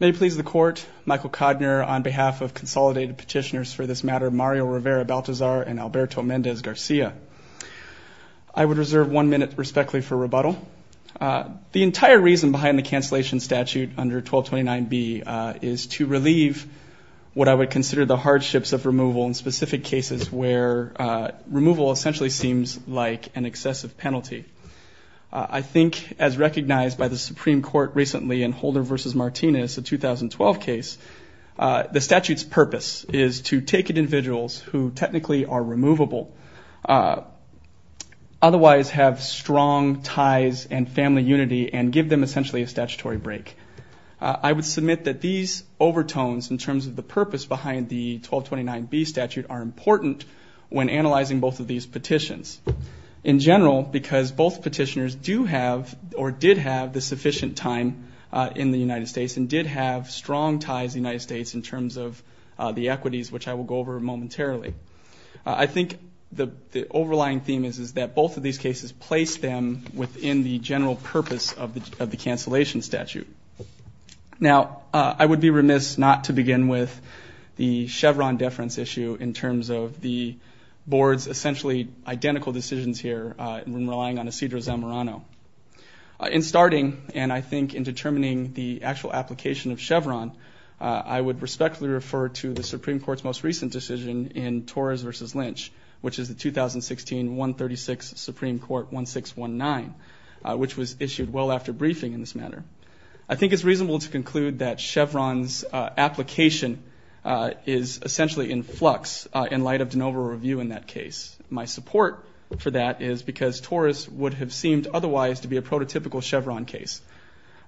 May it please the Court, Michael Kodner on behalf of consolidated petitioners for this matter Mario Rivera-Baltazar and Alberto Mendez-Garcia. I would reserve one minute respectfully for rebuttal. The entire reason behind the cancellation statute under 1229B is to relieve what I would consider the hardships of removal in specific cases where removal essentially seems like an excessive penalty. I think as recognized by the Supreme Court recently in Holder versus Martinez, a 2012 case, the statute's purpose is to take individuals who technically are removable otherwise have strong ties and family unity and give them essentially a statutory break. I would submit that these overtones in terms of the purpose behind the 1229B statute are important when analyzing both of these petitions in general because both petitioners do have or did have the sufficient time in the United States and did have strong ties the United States in terms of the equities which I will go over momentarily. I think the the overlying theme is is that both of these cases place them within the general purpose of the of the cancellation statute. Now I would be remiss not to begin with the Chevron deference issue in terms of the board's essentially identical decisions here when relying on Isidro Zamorano. In starting and I think in determining the actual application of Chevron, I would respectfully refer to the Supreme Court's most recent decision in Torres versus Lynch which is the 2016 136 Supreme Court 1619 which was issued well after briefing in this manner. I think it's reasonable to conclude that Chevron's application is essentially in flux in light of de novo review in that case. My support for that is because Torres would have seemed otherwise to be a prototypical Chevron case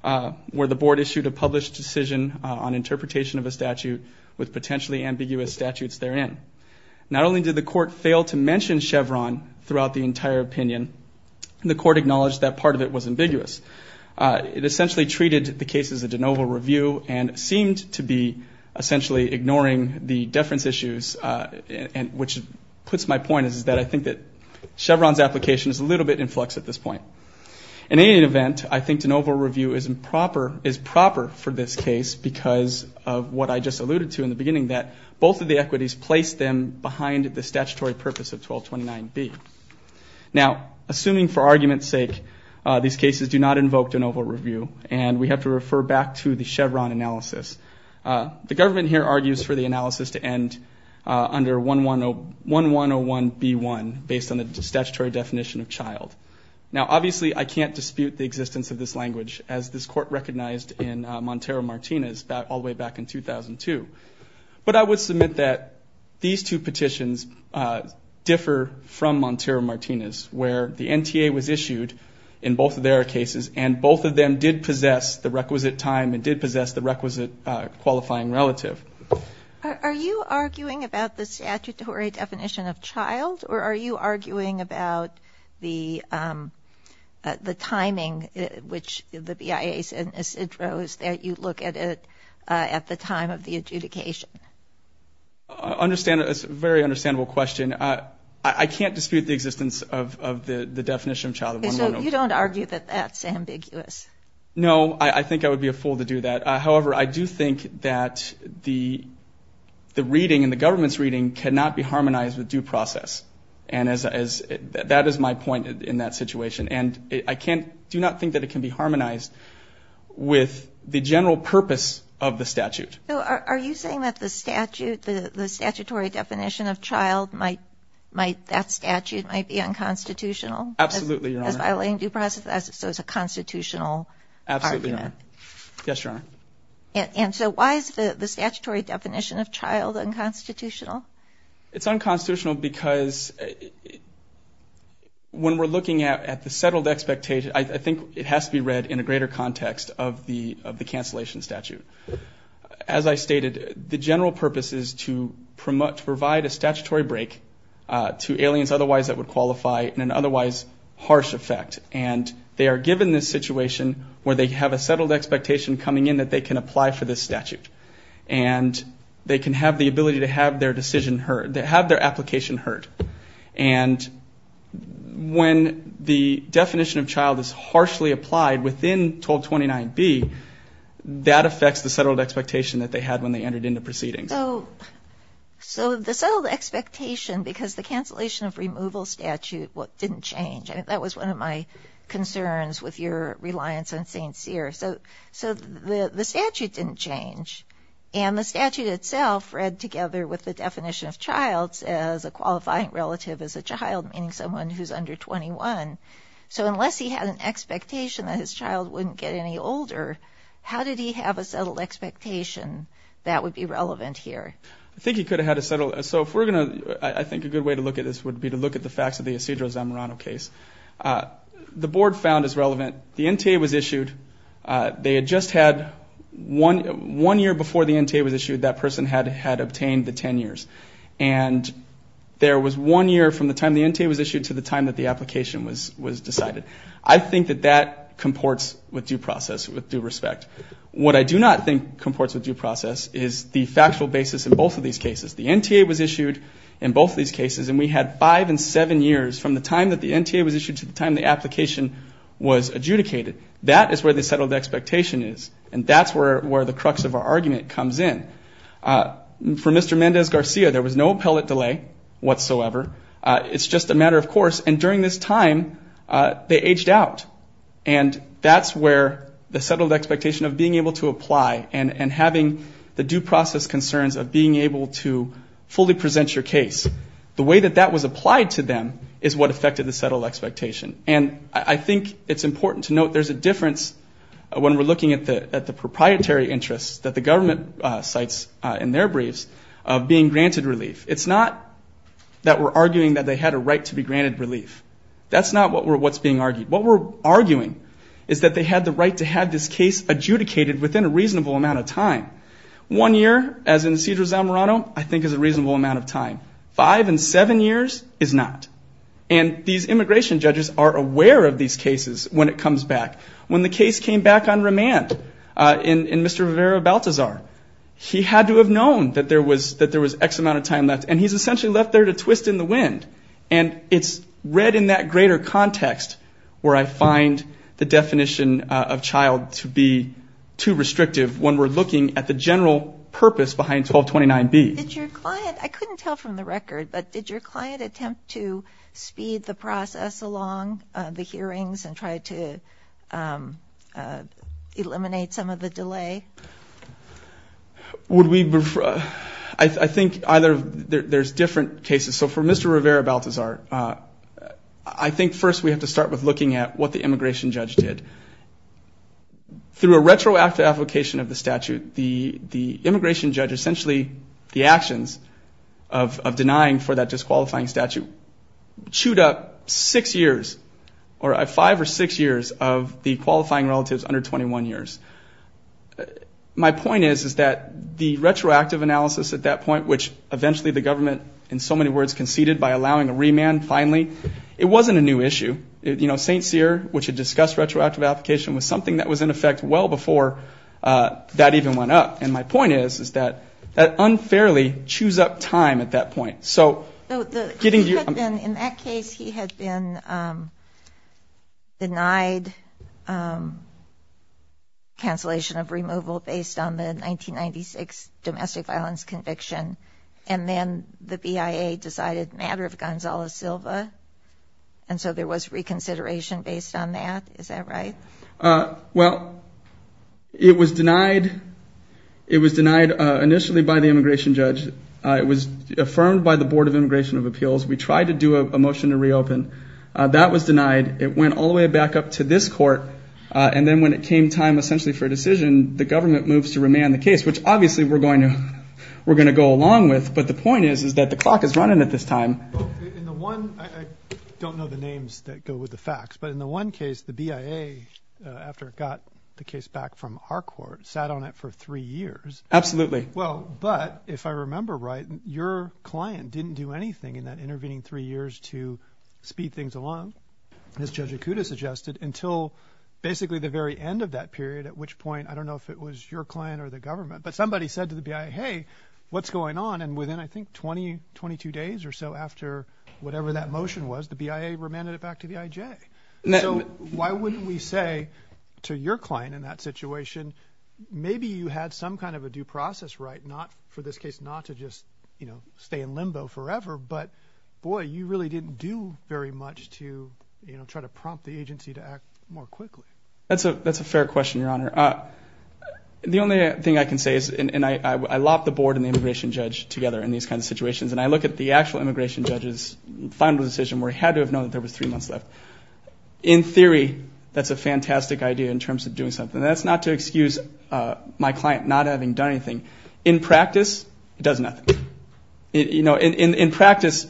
where the board issued a published decision on interpretation of a statute with potentially ambiguous statutes therein. Not only did the court fail to mention Chevron throughout the entire opinion, the court acknowledged that part of it was ambiguous. It essentially treated the case as a de novo review and seemed to be essentially ignoring the deference issues and which puts my point is that I think that Chevron's application is a little bit in flux at this point. In any event, I think de novo review is improper is proper for this case because of what I just alluded to in the beginning that both of the equities placed them behind the statutory purpose of 1229B. Now assuming for argument's sake these cases do not invoke de novo review and we have to refer back to the Chevron analysis, the government here argues for the analysis to end under 1101B1 based on the statutory definition of child. Now obviously I can't dispute the existence of this language as this court recognized in Montero-Martinez all the way back in 2002. But I would submit that these two petitions differ from Montero-Martinez where the NTA was issued in both of their cases and both of them did possess the requisite time and did possess the requisite qualifying relative. Are you arguing about the statutory definition of the time of the adjudication? I understand. It's a very understandable question. I can't dispute the existence of the definition of child. So you don't argue that that's ambiguous? No, I think I would be a fool to do that. However, I do think that the reading and the government's reading cannot be harmonized with due process. And as that is my point in that situation and I can't think that it can be harmonized with the general purpose of the statute. Are you saying that the statute, the statutory definition of child might, that statute might be unconstitutional? Absolutely. As violating due process, so it's a constitutional argument? Absolutely. Yes, Your Honor. And so why is the statutory definition of child unconstitutional? It's unconstitutional because when we're looking at the settled expectation, I think it has to be read in a greater context of the cancellation statute. As I stated, the general purpose is to provide a statutory break to aliens otherwise that would qualify in an otherwise harsh effect. And they are given this situation where they have a settled expectation coming in that they can apply for this statute. And they can have the ability to have their decision heard, to have their application heard. And when the definition of child is harshly applied within 1229 B, that affects the settled expectation that they had when they entered into proceedings. So the settled expectation, because the cancellation of removal statute didn't change. That was one of my concerns with your reliance on St. Cyr. So the statute didn't change. And the statute itself read together with the definition of child as a qualifying relative as a child, meaning someone who's under 21. So unless he had an expectation that his child wouldn't get any older, how did he have a settled expectation that would be relevant here? I think he could have had a settled. So if we're gonna, I think a good way to look at this would be to look at the facts of the Isidro Zamorano case. The board found is relevant. The one year before the NTA was issued, that person had obtained the 10 years. And there was one year from the time the NTA was issued to the time that the application was decided. I think that that comports with due process, with due respect. What I do not think comports with due process is the factual basis in both of these cases. The NTA was issued in both of these cases, and we had five and seven years from the time that the NTA was issued to the time the application was adjudicated. That is where the settled expectation is. And that's where the crux of our argument comes in. For Mr. Mendez-Garcia, there was no appellate delay whatsoever. It's just a matter of course. And during this time, they aged out. And that's where the settled expectation of being able to apply and having the due process concerns of being able to fully present your case. The way that that was applied to them is what affected the settled expectation. And I think it's important to note there's a difference when we're looking at the proprietary interests that the government cites in their briefs of being granted relief. It's not that we're arguing that they had a right to be granted relief. That's not what we're what's being argued. What we're arguing is that they had the right to have this case adjudicated within a reasonable amount of time. One year, as in Cedro Zamorano, I think is a reasonable amount of time. Five and seven years is not. And these the case came back on remand in Mr. Rivera-Baltazar, he had to have known that there was X amount of time left. And he's essentially left there to twist in the wind. And it's read in that greater context where I find the definition of child to be too restrictive when we're looking at the general purpose behind 1229B. I couldn't tell from the record, but did your client attempt to speed the process along the hearings and try to eliminate some of the delay? I think either there's different cases. So for Mr. Rivera-Baltazar, I think first we have to start with looking at what the immigration judge did. Through a retroactive application of the statute, the immigration judge essentially the actions of denying for that disqualifying statute chewed up six years or five or six years of the qualifying relatives under 21 years. My point is that the retroactive analysis at that point, which eventually the government in so many words conceded by allowing a remand finally, it wasn't a new issue. St. Cyr, which had discussed retroactive application, was something that was in effect well before that even went up. And my point is, is that that unfairly chews up time at that point. So in that case, he had been denied cancellation of removal based on the 1996 domestic violence conviction. And then the BIA decided matter of Gonzalo Silva. And so there was reconsideration based on that. Is that right? Well, it was denied. It was denied initially by the immigration judge. It was affirmed by the Board of Immigration of Appeals. We tried to do a motion to reopen. That was denied. It went all the way back up to this court. And then when it came time essentially for a decision, the government moves to remand the case, which obviously we're going to we're going to go along with. But the point is, is that the clock is running at this time. I don't know the names that go with the facts, but in the one case, the BIA, after it got the case back from our court, sat on it for three years. Absolutely. Well, but if I remember right, your client didn't do anything in that intervening three years to speed things along, as Judge Ikuda suggested, until basically the very end of that period, at which point, I don't know if it was your client or the government, but somebody said to the BIA, hey, what's going on? And within I think 20, 22 days or so after whatever that motion was, the BIA remanded it back to the IJ. So why wouldn't we say to your client in that situation, maybe you had some kind of a due process right, not for this case, not to just, you know, stay in limbo forever. But boy, you really didn't do very much to, you know, try to prompt the agency to act more quickly. That's a fair question, Your Honor. The only thing I can say is, and I lopped the board and the immigration judge together in these kinds of situations, and I look at the actual immigration judge's final decision, where he had to have known that there was three months left. In theory, that's a fantastic idea in terms of doing something. That's not to excuse my client not having done anything. In practice, it does nothing. You know, in practice,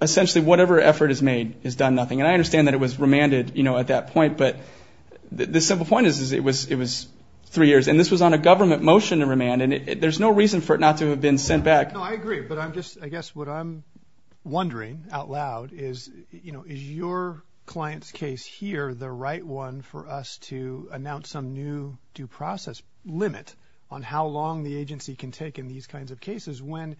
essentially, whatever effort is made is done nothing. And I understand that it was remanded, you know, at that point. But the simple point is, is it was it was three years, and this was on a government motion to remand, and there's no reason for it not to have been sent back. No, I agree. But I'm just, I guess what I'm wondering out loud is, you know, is your client's case here the right one for us to announce some new due process limit on how long the agency can take in these kinds of cases when,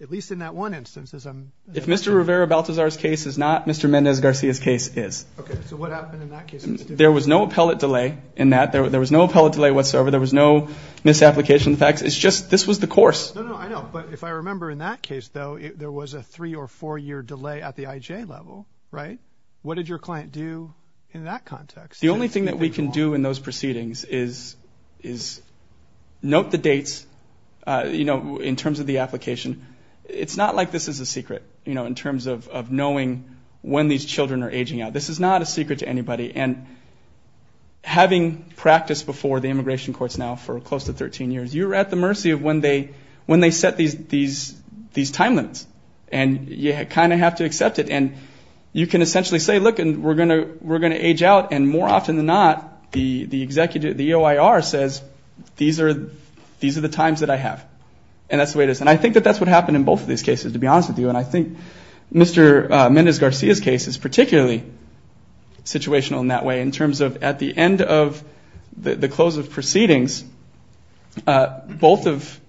at least in that one instance, as I'm... If Mr. Rivera-Baltazar's case is not Mr. Mendez-Garcia's case is. Okay, so what happened in that case? There was no appellate delay in that. There was no appellate delay whatsoever. There was no misapplication of the facts. It's just this was the course. No, no, I know. But if I remember in that case, though, there was a three or four year delay at the IJ level, right? What did your client do in that context? The only thing that we can do in those proceedings is, is note the dates, you know, in terms of the application. It's not like this is a secret, you know, in terms of knowing when these children are aging out. This is not a secret to anybody. And having practiced before the immigration courts now for close to 13 years, you're at the mercy of when they, when they set these, these, these time limits and you kind of have to accept it. And you can essentially say, look, and we're going to, we're going to age out. And more often than not, the, the executive, the EOIR says, these are, these are the times that I have. And that's the way it is. And I think that that's what happened in both of these cases, to be honest with you. And I think Mr. Mendez-Garcia's case is particularly situational in that way, in terms of at the end of the close of proceedings, both of,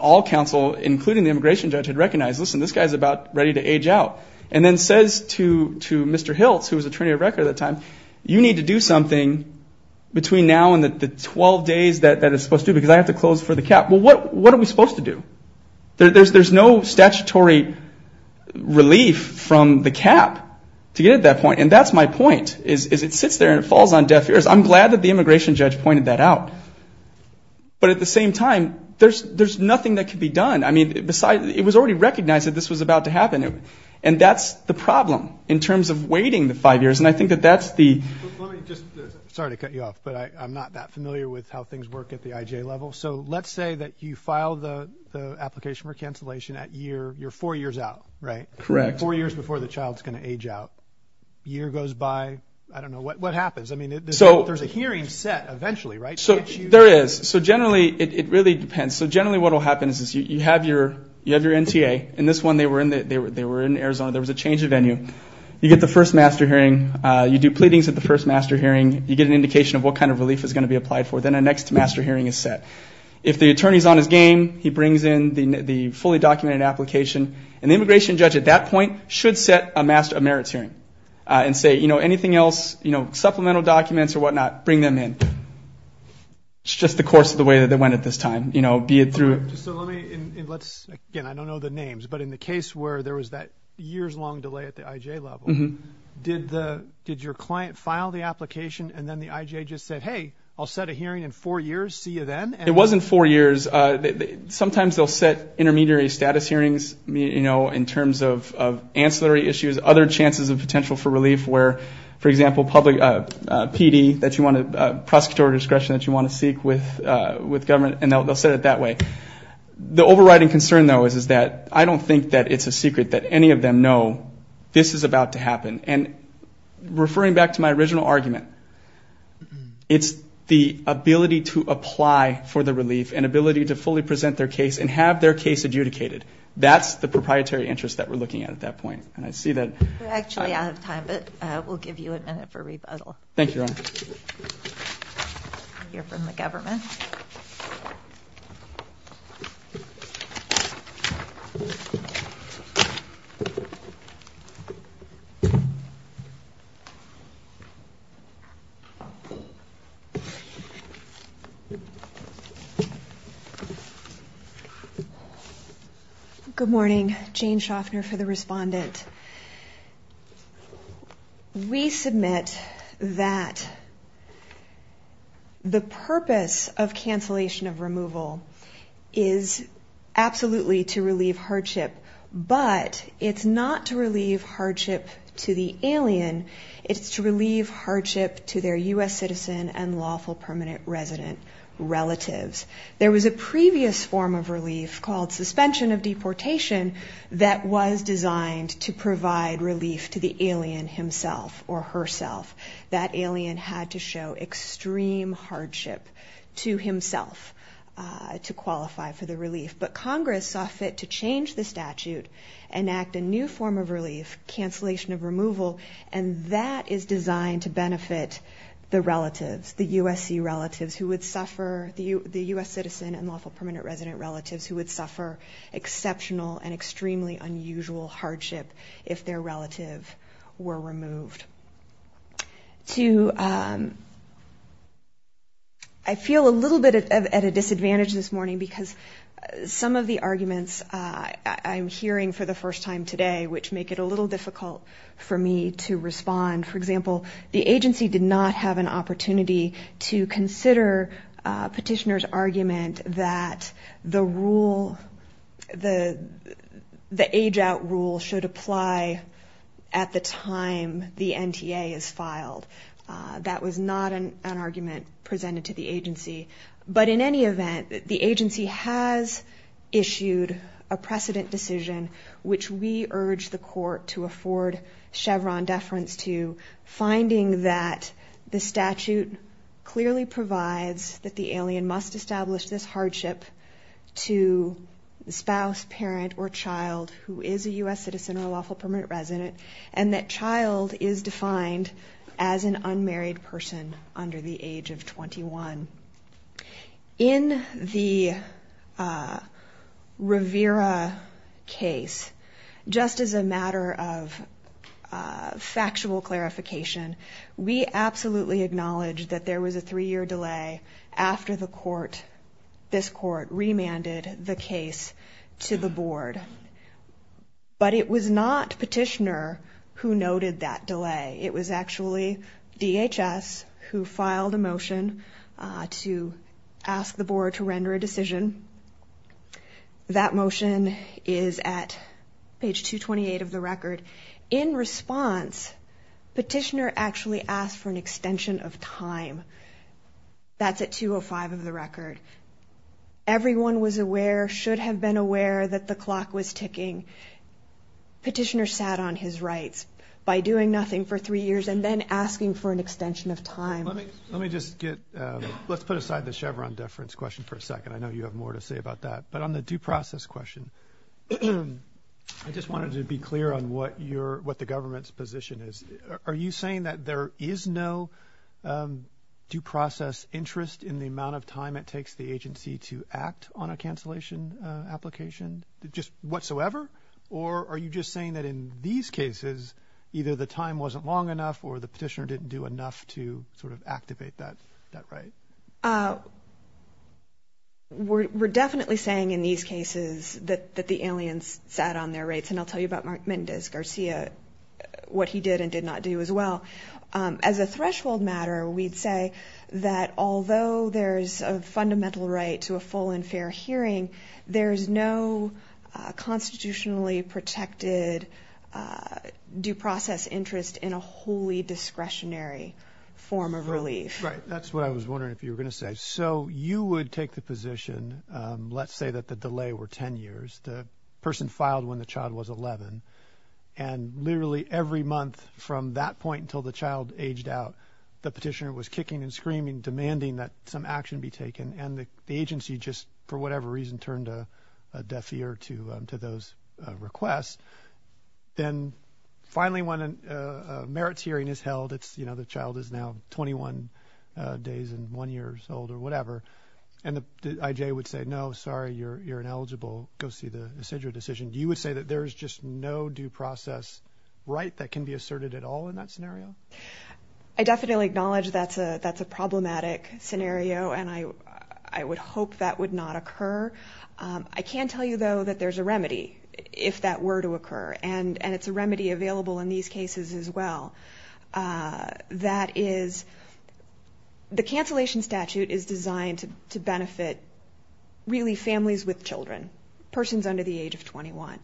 all counsel, including the immigration judge had recognized, listen, this guy's about ready to age out. And then says to, to Mr. Hiltz, who was attorney of record at the time, you need to do something between now and the 12 days that, that it's supposed to, because I have to close for the cap. Well, what, what are we supposed to do? There's, there's no statutory relief from the cap to get at that point. And that's my point, is, is it sits there and it falls on deaf ears. I'm glad that the immigration judge pointed that out. But at the same time, there's, there's nothing that can be done. I mean, besides, it was already recognized that this was about to happen. And that's the problem, in terms of waiting the five years. And I think that that's the. Let me just, sorry to cut you off, but I, I'm not that familiar with how things work at the IJ level. So let's say that you file the, the application for cancellation at year, you're four years out, right? Correct. Four years before the child's going to age out. Year goes by, I don't know, what, what happens? I mean, there's a hearing set eventually, right? So there is. So generally, it, it really depends. So generally, what will happen is, is you, you have your, you have your NTA. And this one, they were in the, they were, they were in Arizona. There was a change of venue. You get the first master hearing. You do pleadings at the first master hearing. You get an indication of what kind of relief is going to be applied for. Then a next master hearing is set. If the attorney's on his game, he brings in the, the fully documented application. And the immigration judge at that point should set a master of merits hearing. And say, you know, anything else, you know, supplemental documents or whatnot, bring them in. It's just the course of the way that they went at this time. You know, be it through. So let me, let's, again, I don't know the names, but in the case where there was that years-long delay at the IJ level, did the, did your client file the application and then the IJ just said, hey, I'll set a hearing in four years, see you then? It was in four years. Sometimes they'll set intermediary status hearings, you know, in terms of, of ancillary issues, other chances of potential for relief where, for example, public PD that you want to, prosecutorial discretion that you want to seek with, with government, and they'll set it that way. The overriding concern, though, is, is that I don't think that it's a secret that any of them know this is about to happen. And referring back to my original argument, it's the ability to apply for the relief and ability to fully present their case and have their case adjudicated. That's the proprietary interest that we're looking at at that point. And I see that- We're actually out of time, but we'll give you a minute for rebuttal. Thank you, Your Honor. We'll hear from the government. Good morning. Jane Shoffner for the respondent. We submit that the purpose of cancellation of removal is absolutely to relieve hardship. But it's not to relieve hardship to the alien. It's to relieve hardship to their U.S. citizen and lawful permanent resident relatives. There was a previous form of relief called suspension of deportation that was designed to provide relief to the alien himself or herself. That alien had to show extreme hardship to himself to qualify for the relief. But Congress saw fit to change the statute and act a new form of relief, cancellation of removal, and that is designed to benefit the relatives, the USC relatives who would suffer- the U.S. citizen and lawful permanent resident relatives who would suffer exceptional and extremely unusual hardship if their relative were removed. To- I feel a little bit at a disadvantage this morning because some of the arguments I'm hearing for the first time today, which make it a little difficult for me to respond- for example, the agency did not have an opportunity to consider petitioner's argument that the rule- the age-out rule should apply at the time the NTA is filed. That was not an argument presented to the agency. But in any event, the agency has issued a precedent decision which we urge the court to afford Chevron deference to, finding that the statute clearly provides that the alien must establish this hardship to the spouse, parent, or child who is a U.S. citizen or lawful permanent resident, and that child is defined as an unmarried person under the age of 21. In the Rivera case, just as a matter of factual clarification, we absolutely acknowledge that there was a three-year delay after the court- this court remanded the case to the board. But it was not petitioner who noted that delay. It was actually DHS who filed a motion to ask the board to render a decision. That motion is at page 228 of the record. In response, petitioner actually asked for an extension of time. That's at 205 of the record. Everyone was aware, should have been aware, that the clock was ticking. Petitioner sat on his rights by doing nothing for three years and then asking for an extension of time. Let me just get- let's put aside the Chevron deference question for a second. I know you have more to say about that. But on the due process question, I just wanted to be clear on what the government's position is. Are you saying that there is no due process interest in the amount of time it takes the agency to act on a cancellation application just whatsoever? Or are you just saying that in these cases, either the time wasn't long enough or the petitioner didn't do enough to sort of activate that right? We're definitely saying in these cases that the aliens sat on their rights. And I'll tell you about Mark Mendez Garcia, what he did and did not do as well. As a threshold matter, we'd say that although there's a fundamental right to a full and fair hearing, there's no constitutionally protected due process interest in a wholly discretionary form of relief. Right. That's what I was wondering if you were going to say. So you would take the position, let's say that the delay were 10 years. The person filed when the child was 11 and literally every month from that point until the child aged out, the petitioner was kicking and screaming, demanding that some action be taken. And the agency just, for whatever reason, turned a deaf ear to to those requests. Then finally, when a merits hearing is held, it's you know, the child is now 21 days and one years old or whatever. And the IJ would say, no, sorry, you're you're ineligible. Go see the procedural decision. You would say that there is just no due process right that can be asserted at all in that scenario. I definitely acknowledge that's a that's a problematic scenario. And I, I would hope that would not occur. I can tell you, though, that there's a remedy if that were to occur. And it's a remedy available in these cases as well. That is the cancellation statute is designed to benefit really families with children, persons under the age of 21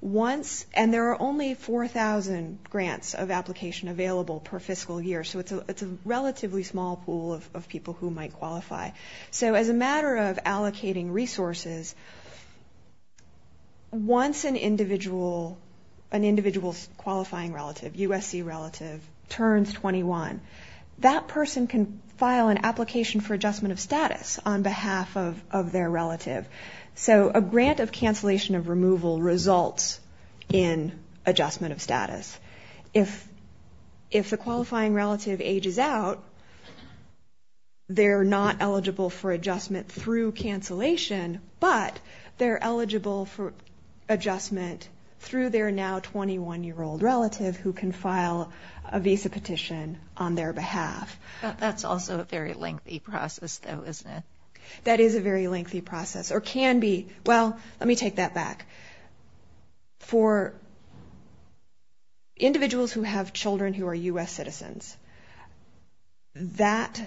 once. And there are only 4000 grants of application available per fiscal year. So it's a it's a relatively small pool of people who might qualify. So as a matter of allocating resources. Once an individual, an individual qualifying relative USC relative turns 21, that person can file an application for adjustment of status on behalf of their relative. So a grant of cancellation of removal results in adjustment of status. If if the qualifying relative ages out. They're not eligible for adjustment through cancellation, but they're eligible for adjustment through their now 21 year old relative who can file a visa petition on their behalf. That's also a very lengthy process, though, isn't it? That is a very lengthy process or can be. Well, let me take that back. For. Individuals who have children who are U.S. citizens. That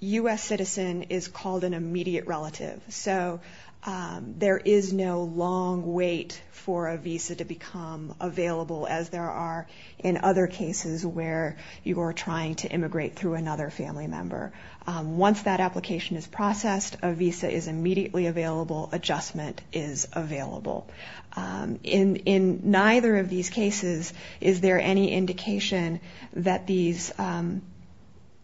U.S. citizen is called an immediate relative, so there is no long wait for a visa to become available, as there are in other cases where you are trying to immigrate through another family member. Once that application is processed, a visa is immediately available. Adjustment is available in in neither of these cases. Is there any indication that these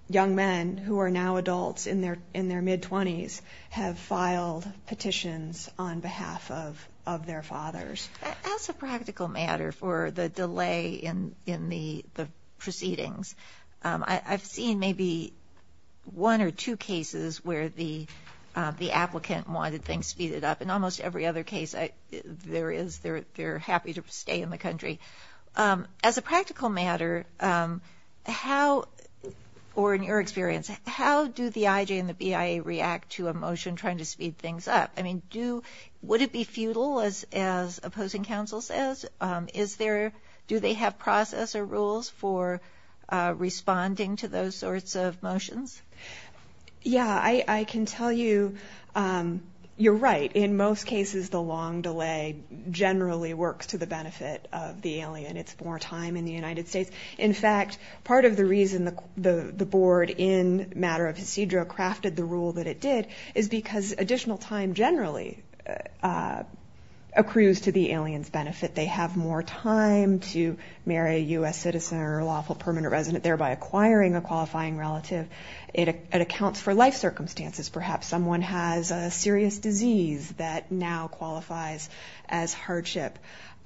young men who are now adults in their in their mid 20s have filed petitions on behalf of of their fathers? As a practical matter for the delay in in the proceedings, I've seen maybe one or two cases where the the applicant wanted things speeded up in almost every other case. There is there. They're happy to stay in the country as a practical matter. How or in your experience, how do the IJ and the BIA react to a motion trying to speed things up? I mean, do would it be futile as as opposing counsel says? Is there do they have process or rules for responding to those sorts of motions? Yeah, I can tell you you're right. In most cases, the long delay generally works to the benefit of the alien. It's more time in the United States. In fact, part of the reason the board in matter of procedural crafted the rule that it did is because additional time generally accrues to the alien's benefit. They have more time to marry a U.S. citizen or lawful permanent resident, thereby acquiring a qualifying relative. It accounts for life circumstances. Perhaps someone has a serious disease that now qualifies as hardship.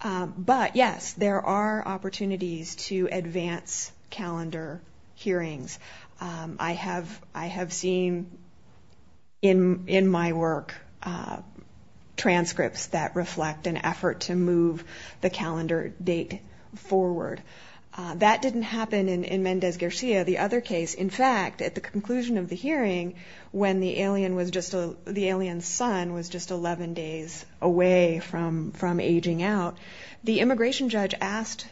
But, yes, there are opportunities to advance calendar hearings. I have I have seen in in my work transcripts that reflect an effort to move the calendar date forward. That didn't happen in Mendez Garcia. The other case, in fact, at the conclusion of the hearing, when the alien was just the alien's son was just 11 days away from from aging out. The immigration judge asked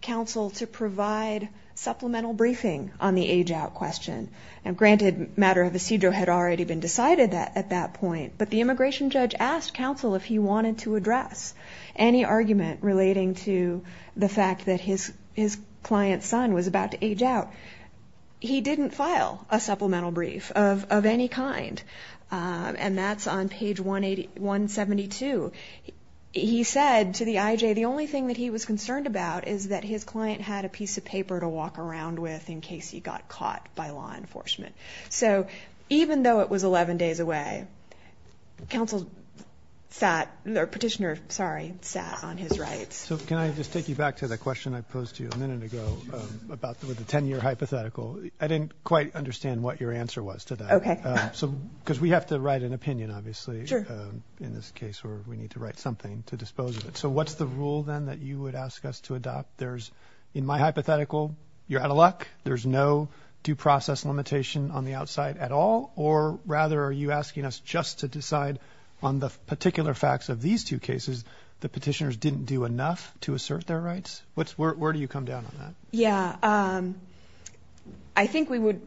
counsel to provide supplemental briefing on the age out question. And granted, matter of procedural had already been decided that at that point. But the immigration judge asked counsel if he wanted to address any argument relating to the fact that his his client's son was about to age out. He didn't file a supplemental brief of of any kind. And that's on page 181, 72. He said to the IJ, the only thing that he was concerned about is that his client had a piece of paper to walk around with in case he got caught by law enforcement. So even though it was 11 days away, counsel sat there, petitioner, sorry, sat on his rights. So can I just take you back to the question I posed to you a minute ago about the 10 year hypothetical? I didn't quite understand what your answer was to that. OK. So because we have to write an opinion, obviously, in this case where we need to write something to dispose of it. So what's the rule then that you would ask us to adopt? There's in my hypothetical you're out of luck. There's no due process limitation on the outside at all. Or rather, are you asking us just to decide on the particular facts of these two cases? The petitioners didn't do enough to assert their rights. What's where do you come down on that? Yeah, I think we would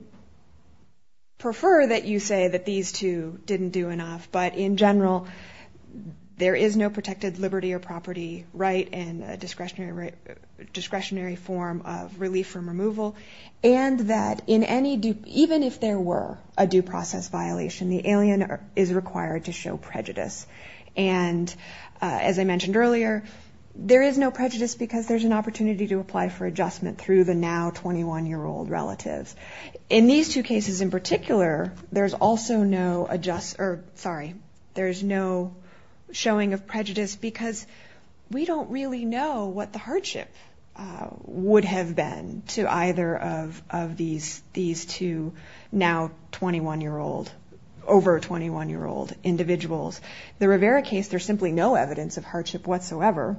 prefer that you say that these two didn't do enough. But in general, there is no protected liberty or property right and discretionary discretionary form of relief from removal. And that in any even if there were a due process violation, the alien is required to show prejudice. And as I mentioned earlier, there is no prejudice because there's an opportunity to apply for adjustment through the now 21 year old relatives. In these two cases in particular, there's also no adjust or sorry. There's no showing of prejudice because we don't really know what the hardship would have been to either of these. These two now 21 year old over 21 year old individuals. The Rivera case, there's simply no evidence of hardship whatsoever.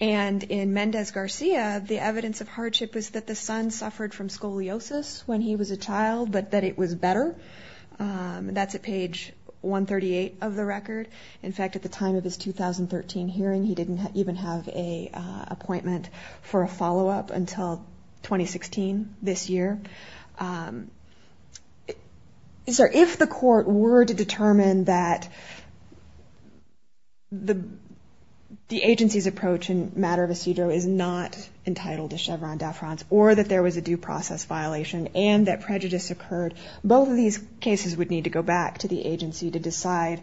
And in Mendez Garcia, the evidence of hardship was that the son suffered from scoliosis when he was a child, but that it was better. That's a page 138 of the record. In fact, at the time of his 2013 hearing, he didn't even have a appointment for a follow up until 2016 this year. And so if the court were to determine that the agency's approach in matter of a CDO is not entitled to Chevron deference or that there was a due process violation and that prejudice occurred. Both of these cases would need to go back to the agency to decide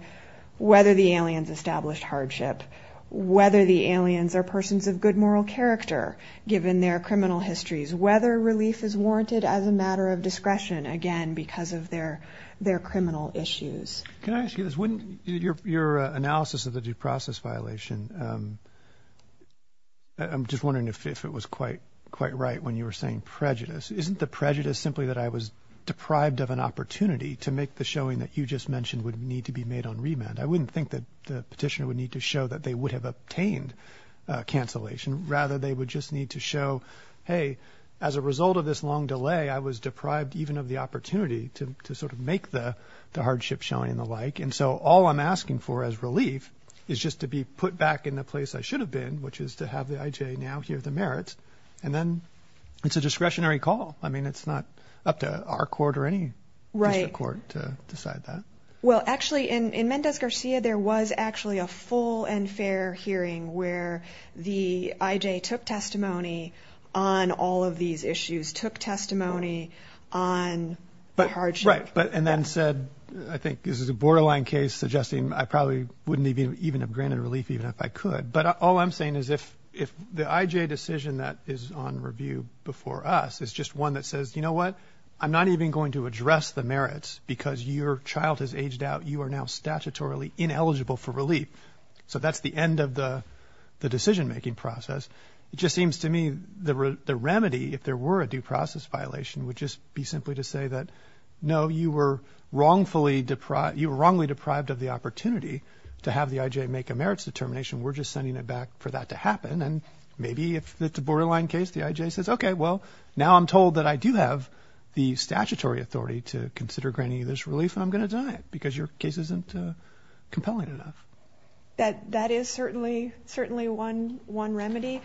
whether the aliens established hardship, whether the aliens are persons of good moral character. Given their criminal histories, whether relief is warranted as a matter of discretion, again, because of their their criminal issues. Can I ask you this when your analysis of the due process violation? I'm just wondering if it was quite quite right when you were saying prejudice, isn't the prejudice simply that I was deprived of an opportunity to make the showing that you just mentioned would need to be made on remand? I wouldn't think that the petitioner would need to show that they would have obtained cancellation. Rather, they would just need to show, hey, as a result of this long delay, I was deprived even of the opportunity to sort of make the hardship showing the like. And so all I'm asking for as relief is just to be put back in the place I should have been, which is to have the IJ now hear the merits. And then it's a discretionary call. I mean, it's not up to our court or any right court to decide that. Well, actually, in Mendez Garcia, there was actually a full and fair hearing where the IJ took testimony on all of these issues, took testimony on. But right. But and then said, I think this is a borderline case suggesting I probably wouldn't even have granted relief even if I could. But all I'm saying is if if the IJ decision that is on review before us is just one that says, you know what? I'm not even going to address the merits because your child has aged out. You are now statutorily ineligible for relief. So that's the end of the the decision making process. It just seems to me the remedy, if there were a due process violation, would just be simply to say that, no, you were wrongfully deprived. You were wrongly deprived of the opportunity to have the IJ make a merits determination. We're just sending it back for that to happen. And maybe if it's a borderline case, the IJ says, OK, well, now I'm told that I do have the statutory authority to consider granting this relief. I'm going to die because your case isn't compelling enough. That that is certainly certainly one one remedy.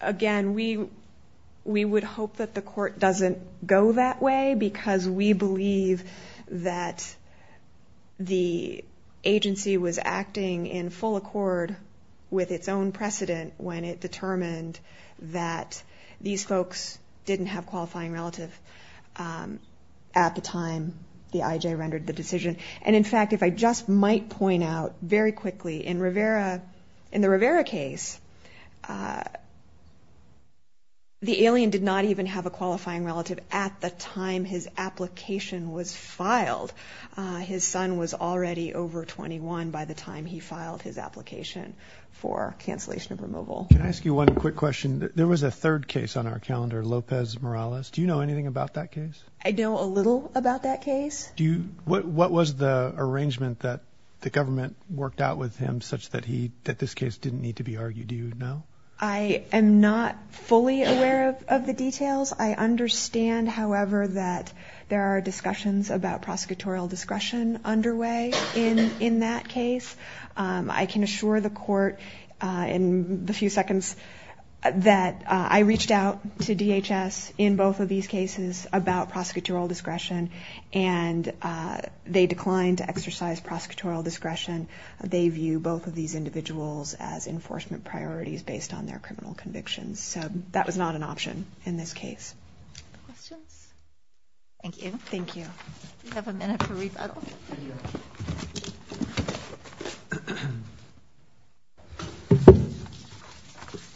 Again, we we would hope that the court doesn't go that way because we believe that. The agency was acting in full accord with its own precedent when it determined that these folks didn't have qualifying relative. At the time, the IJ rendered the decision. And in fact, if I just might point out very quickly in Rivera, in the Rivera case. The alien did not even have a qualifying relative at the time his application was filed. His son was already over 21 by the time he filed his application for cancellation of removal. Can I ask you one quick question? There was a third case on our calendar, Lopez Morales. Do you know anything about that case? I know a little about that case. Do you? What was the arrangement that the government worked out with him such that he that this case didn't need to be argued? You know, I am not fully aware of the details. I understand, however, that there are discussions about prosecutorial discretion underway in in that case. I can assure the court in the few seconds that I reached out to DHS in both of these cases about prosecutorial discretion. And they declined to exercise prosecutorial discretion. They view both of these individuals as enforcement priorities based on their criminal convictions. So that was not an option in this case. Thank you. Thank you. You have a minute for rebuttal.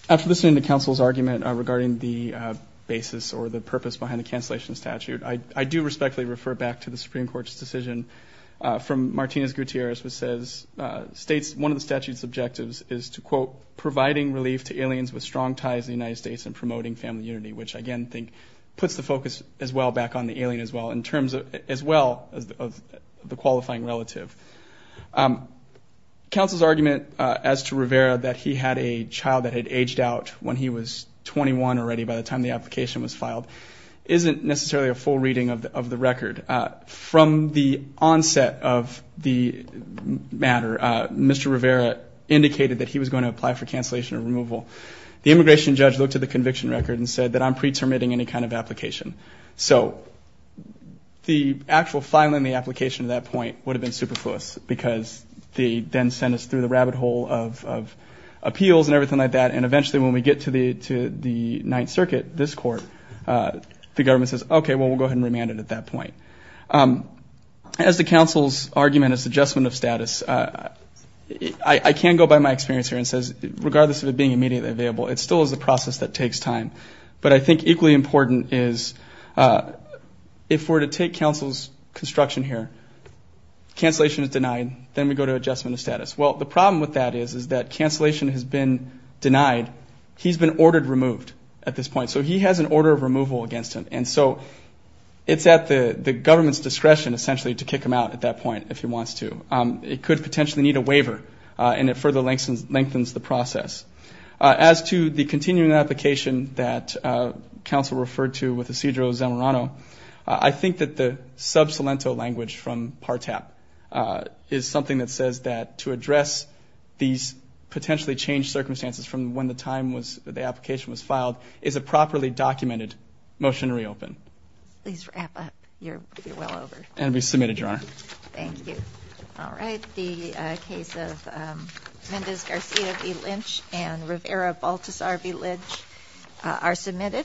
After listening to counsel's argument regarding the basis or the purpose behind the cancellation statute. I do respectfully refer back to the Supreme Court's decision from Martinez Gutierrez, which says states one of the statute's objectives is to, quote, providing relief to aliens with strong ties in the United States and promoting family unity, which I again think puts the focus as well back on the alien as well in terms of as well as the qualifying relative. Counsel's argument as to Rivera that he had a child that had aged out when he was 21 already by the time the application was filed, isn't necessarily a full reading of the record from the onset of the matter. Mr. Rivera indicated that he was going to apply for cancellation or removal. The immigration judge looked at the conviction record and said that I'm preterminating any kind of application. So the actual filing the application at that point would have been superfluous because they then sent us through the rabbit hole of appeals and everything like that. And eventually when we get to the Ninth Circuit, this court, the government says, okay, well, we'll go ahead and remand it at that point. As to counsel's argument as adjustment of status, I can go by my experience here and says regardless of it being immediately available, it still is a process that takes time. But I think equally important is if we're to take counsel's construction here, cancellation is denied. Then we go to adjustment of status. Well, the problem with that is that cancellation has been denied. He's been ordered removed at this point. So he has an order of removal against him. And so it's at the government's discretion essentially to kick him out at that point if he wants to. It could potentially need a waiver, and it further lengthens the process. As to the continuing application that counsel referred to with Isidro Zamorano, I think that the sub salento language from PARTAP is something that says that to address these potentially changed circumstances from when the application was filed is a properly documented motion to reopen. Please wrap up. You're well over. And we submitted, Your Honor. Thank you. All right. The case of Mendez Garcia v. Lynch and Rivera Baltazar v. Lynch are submitted.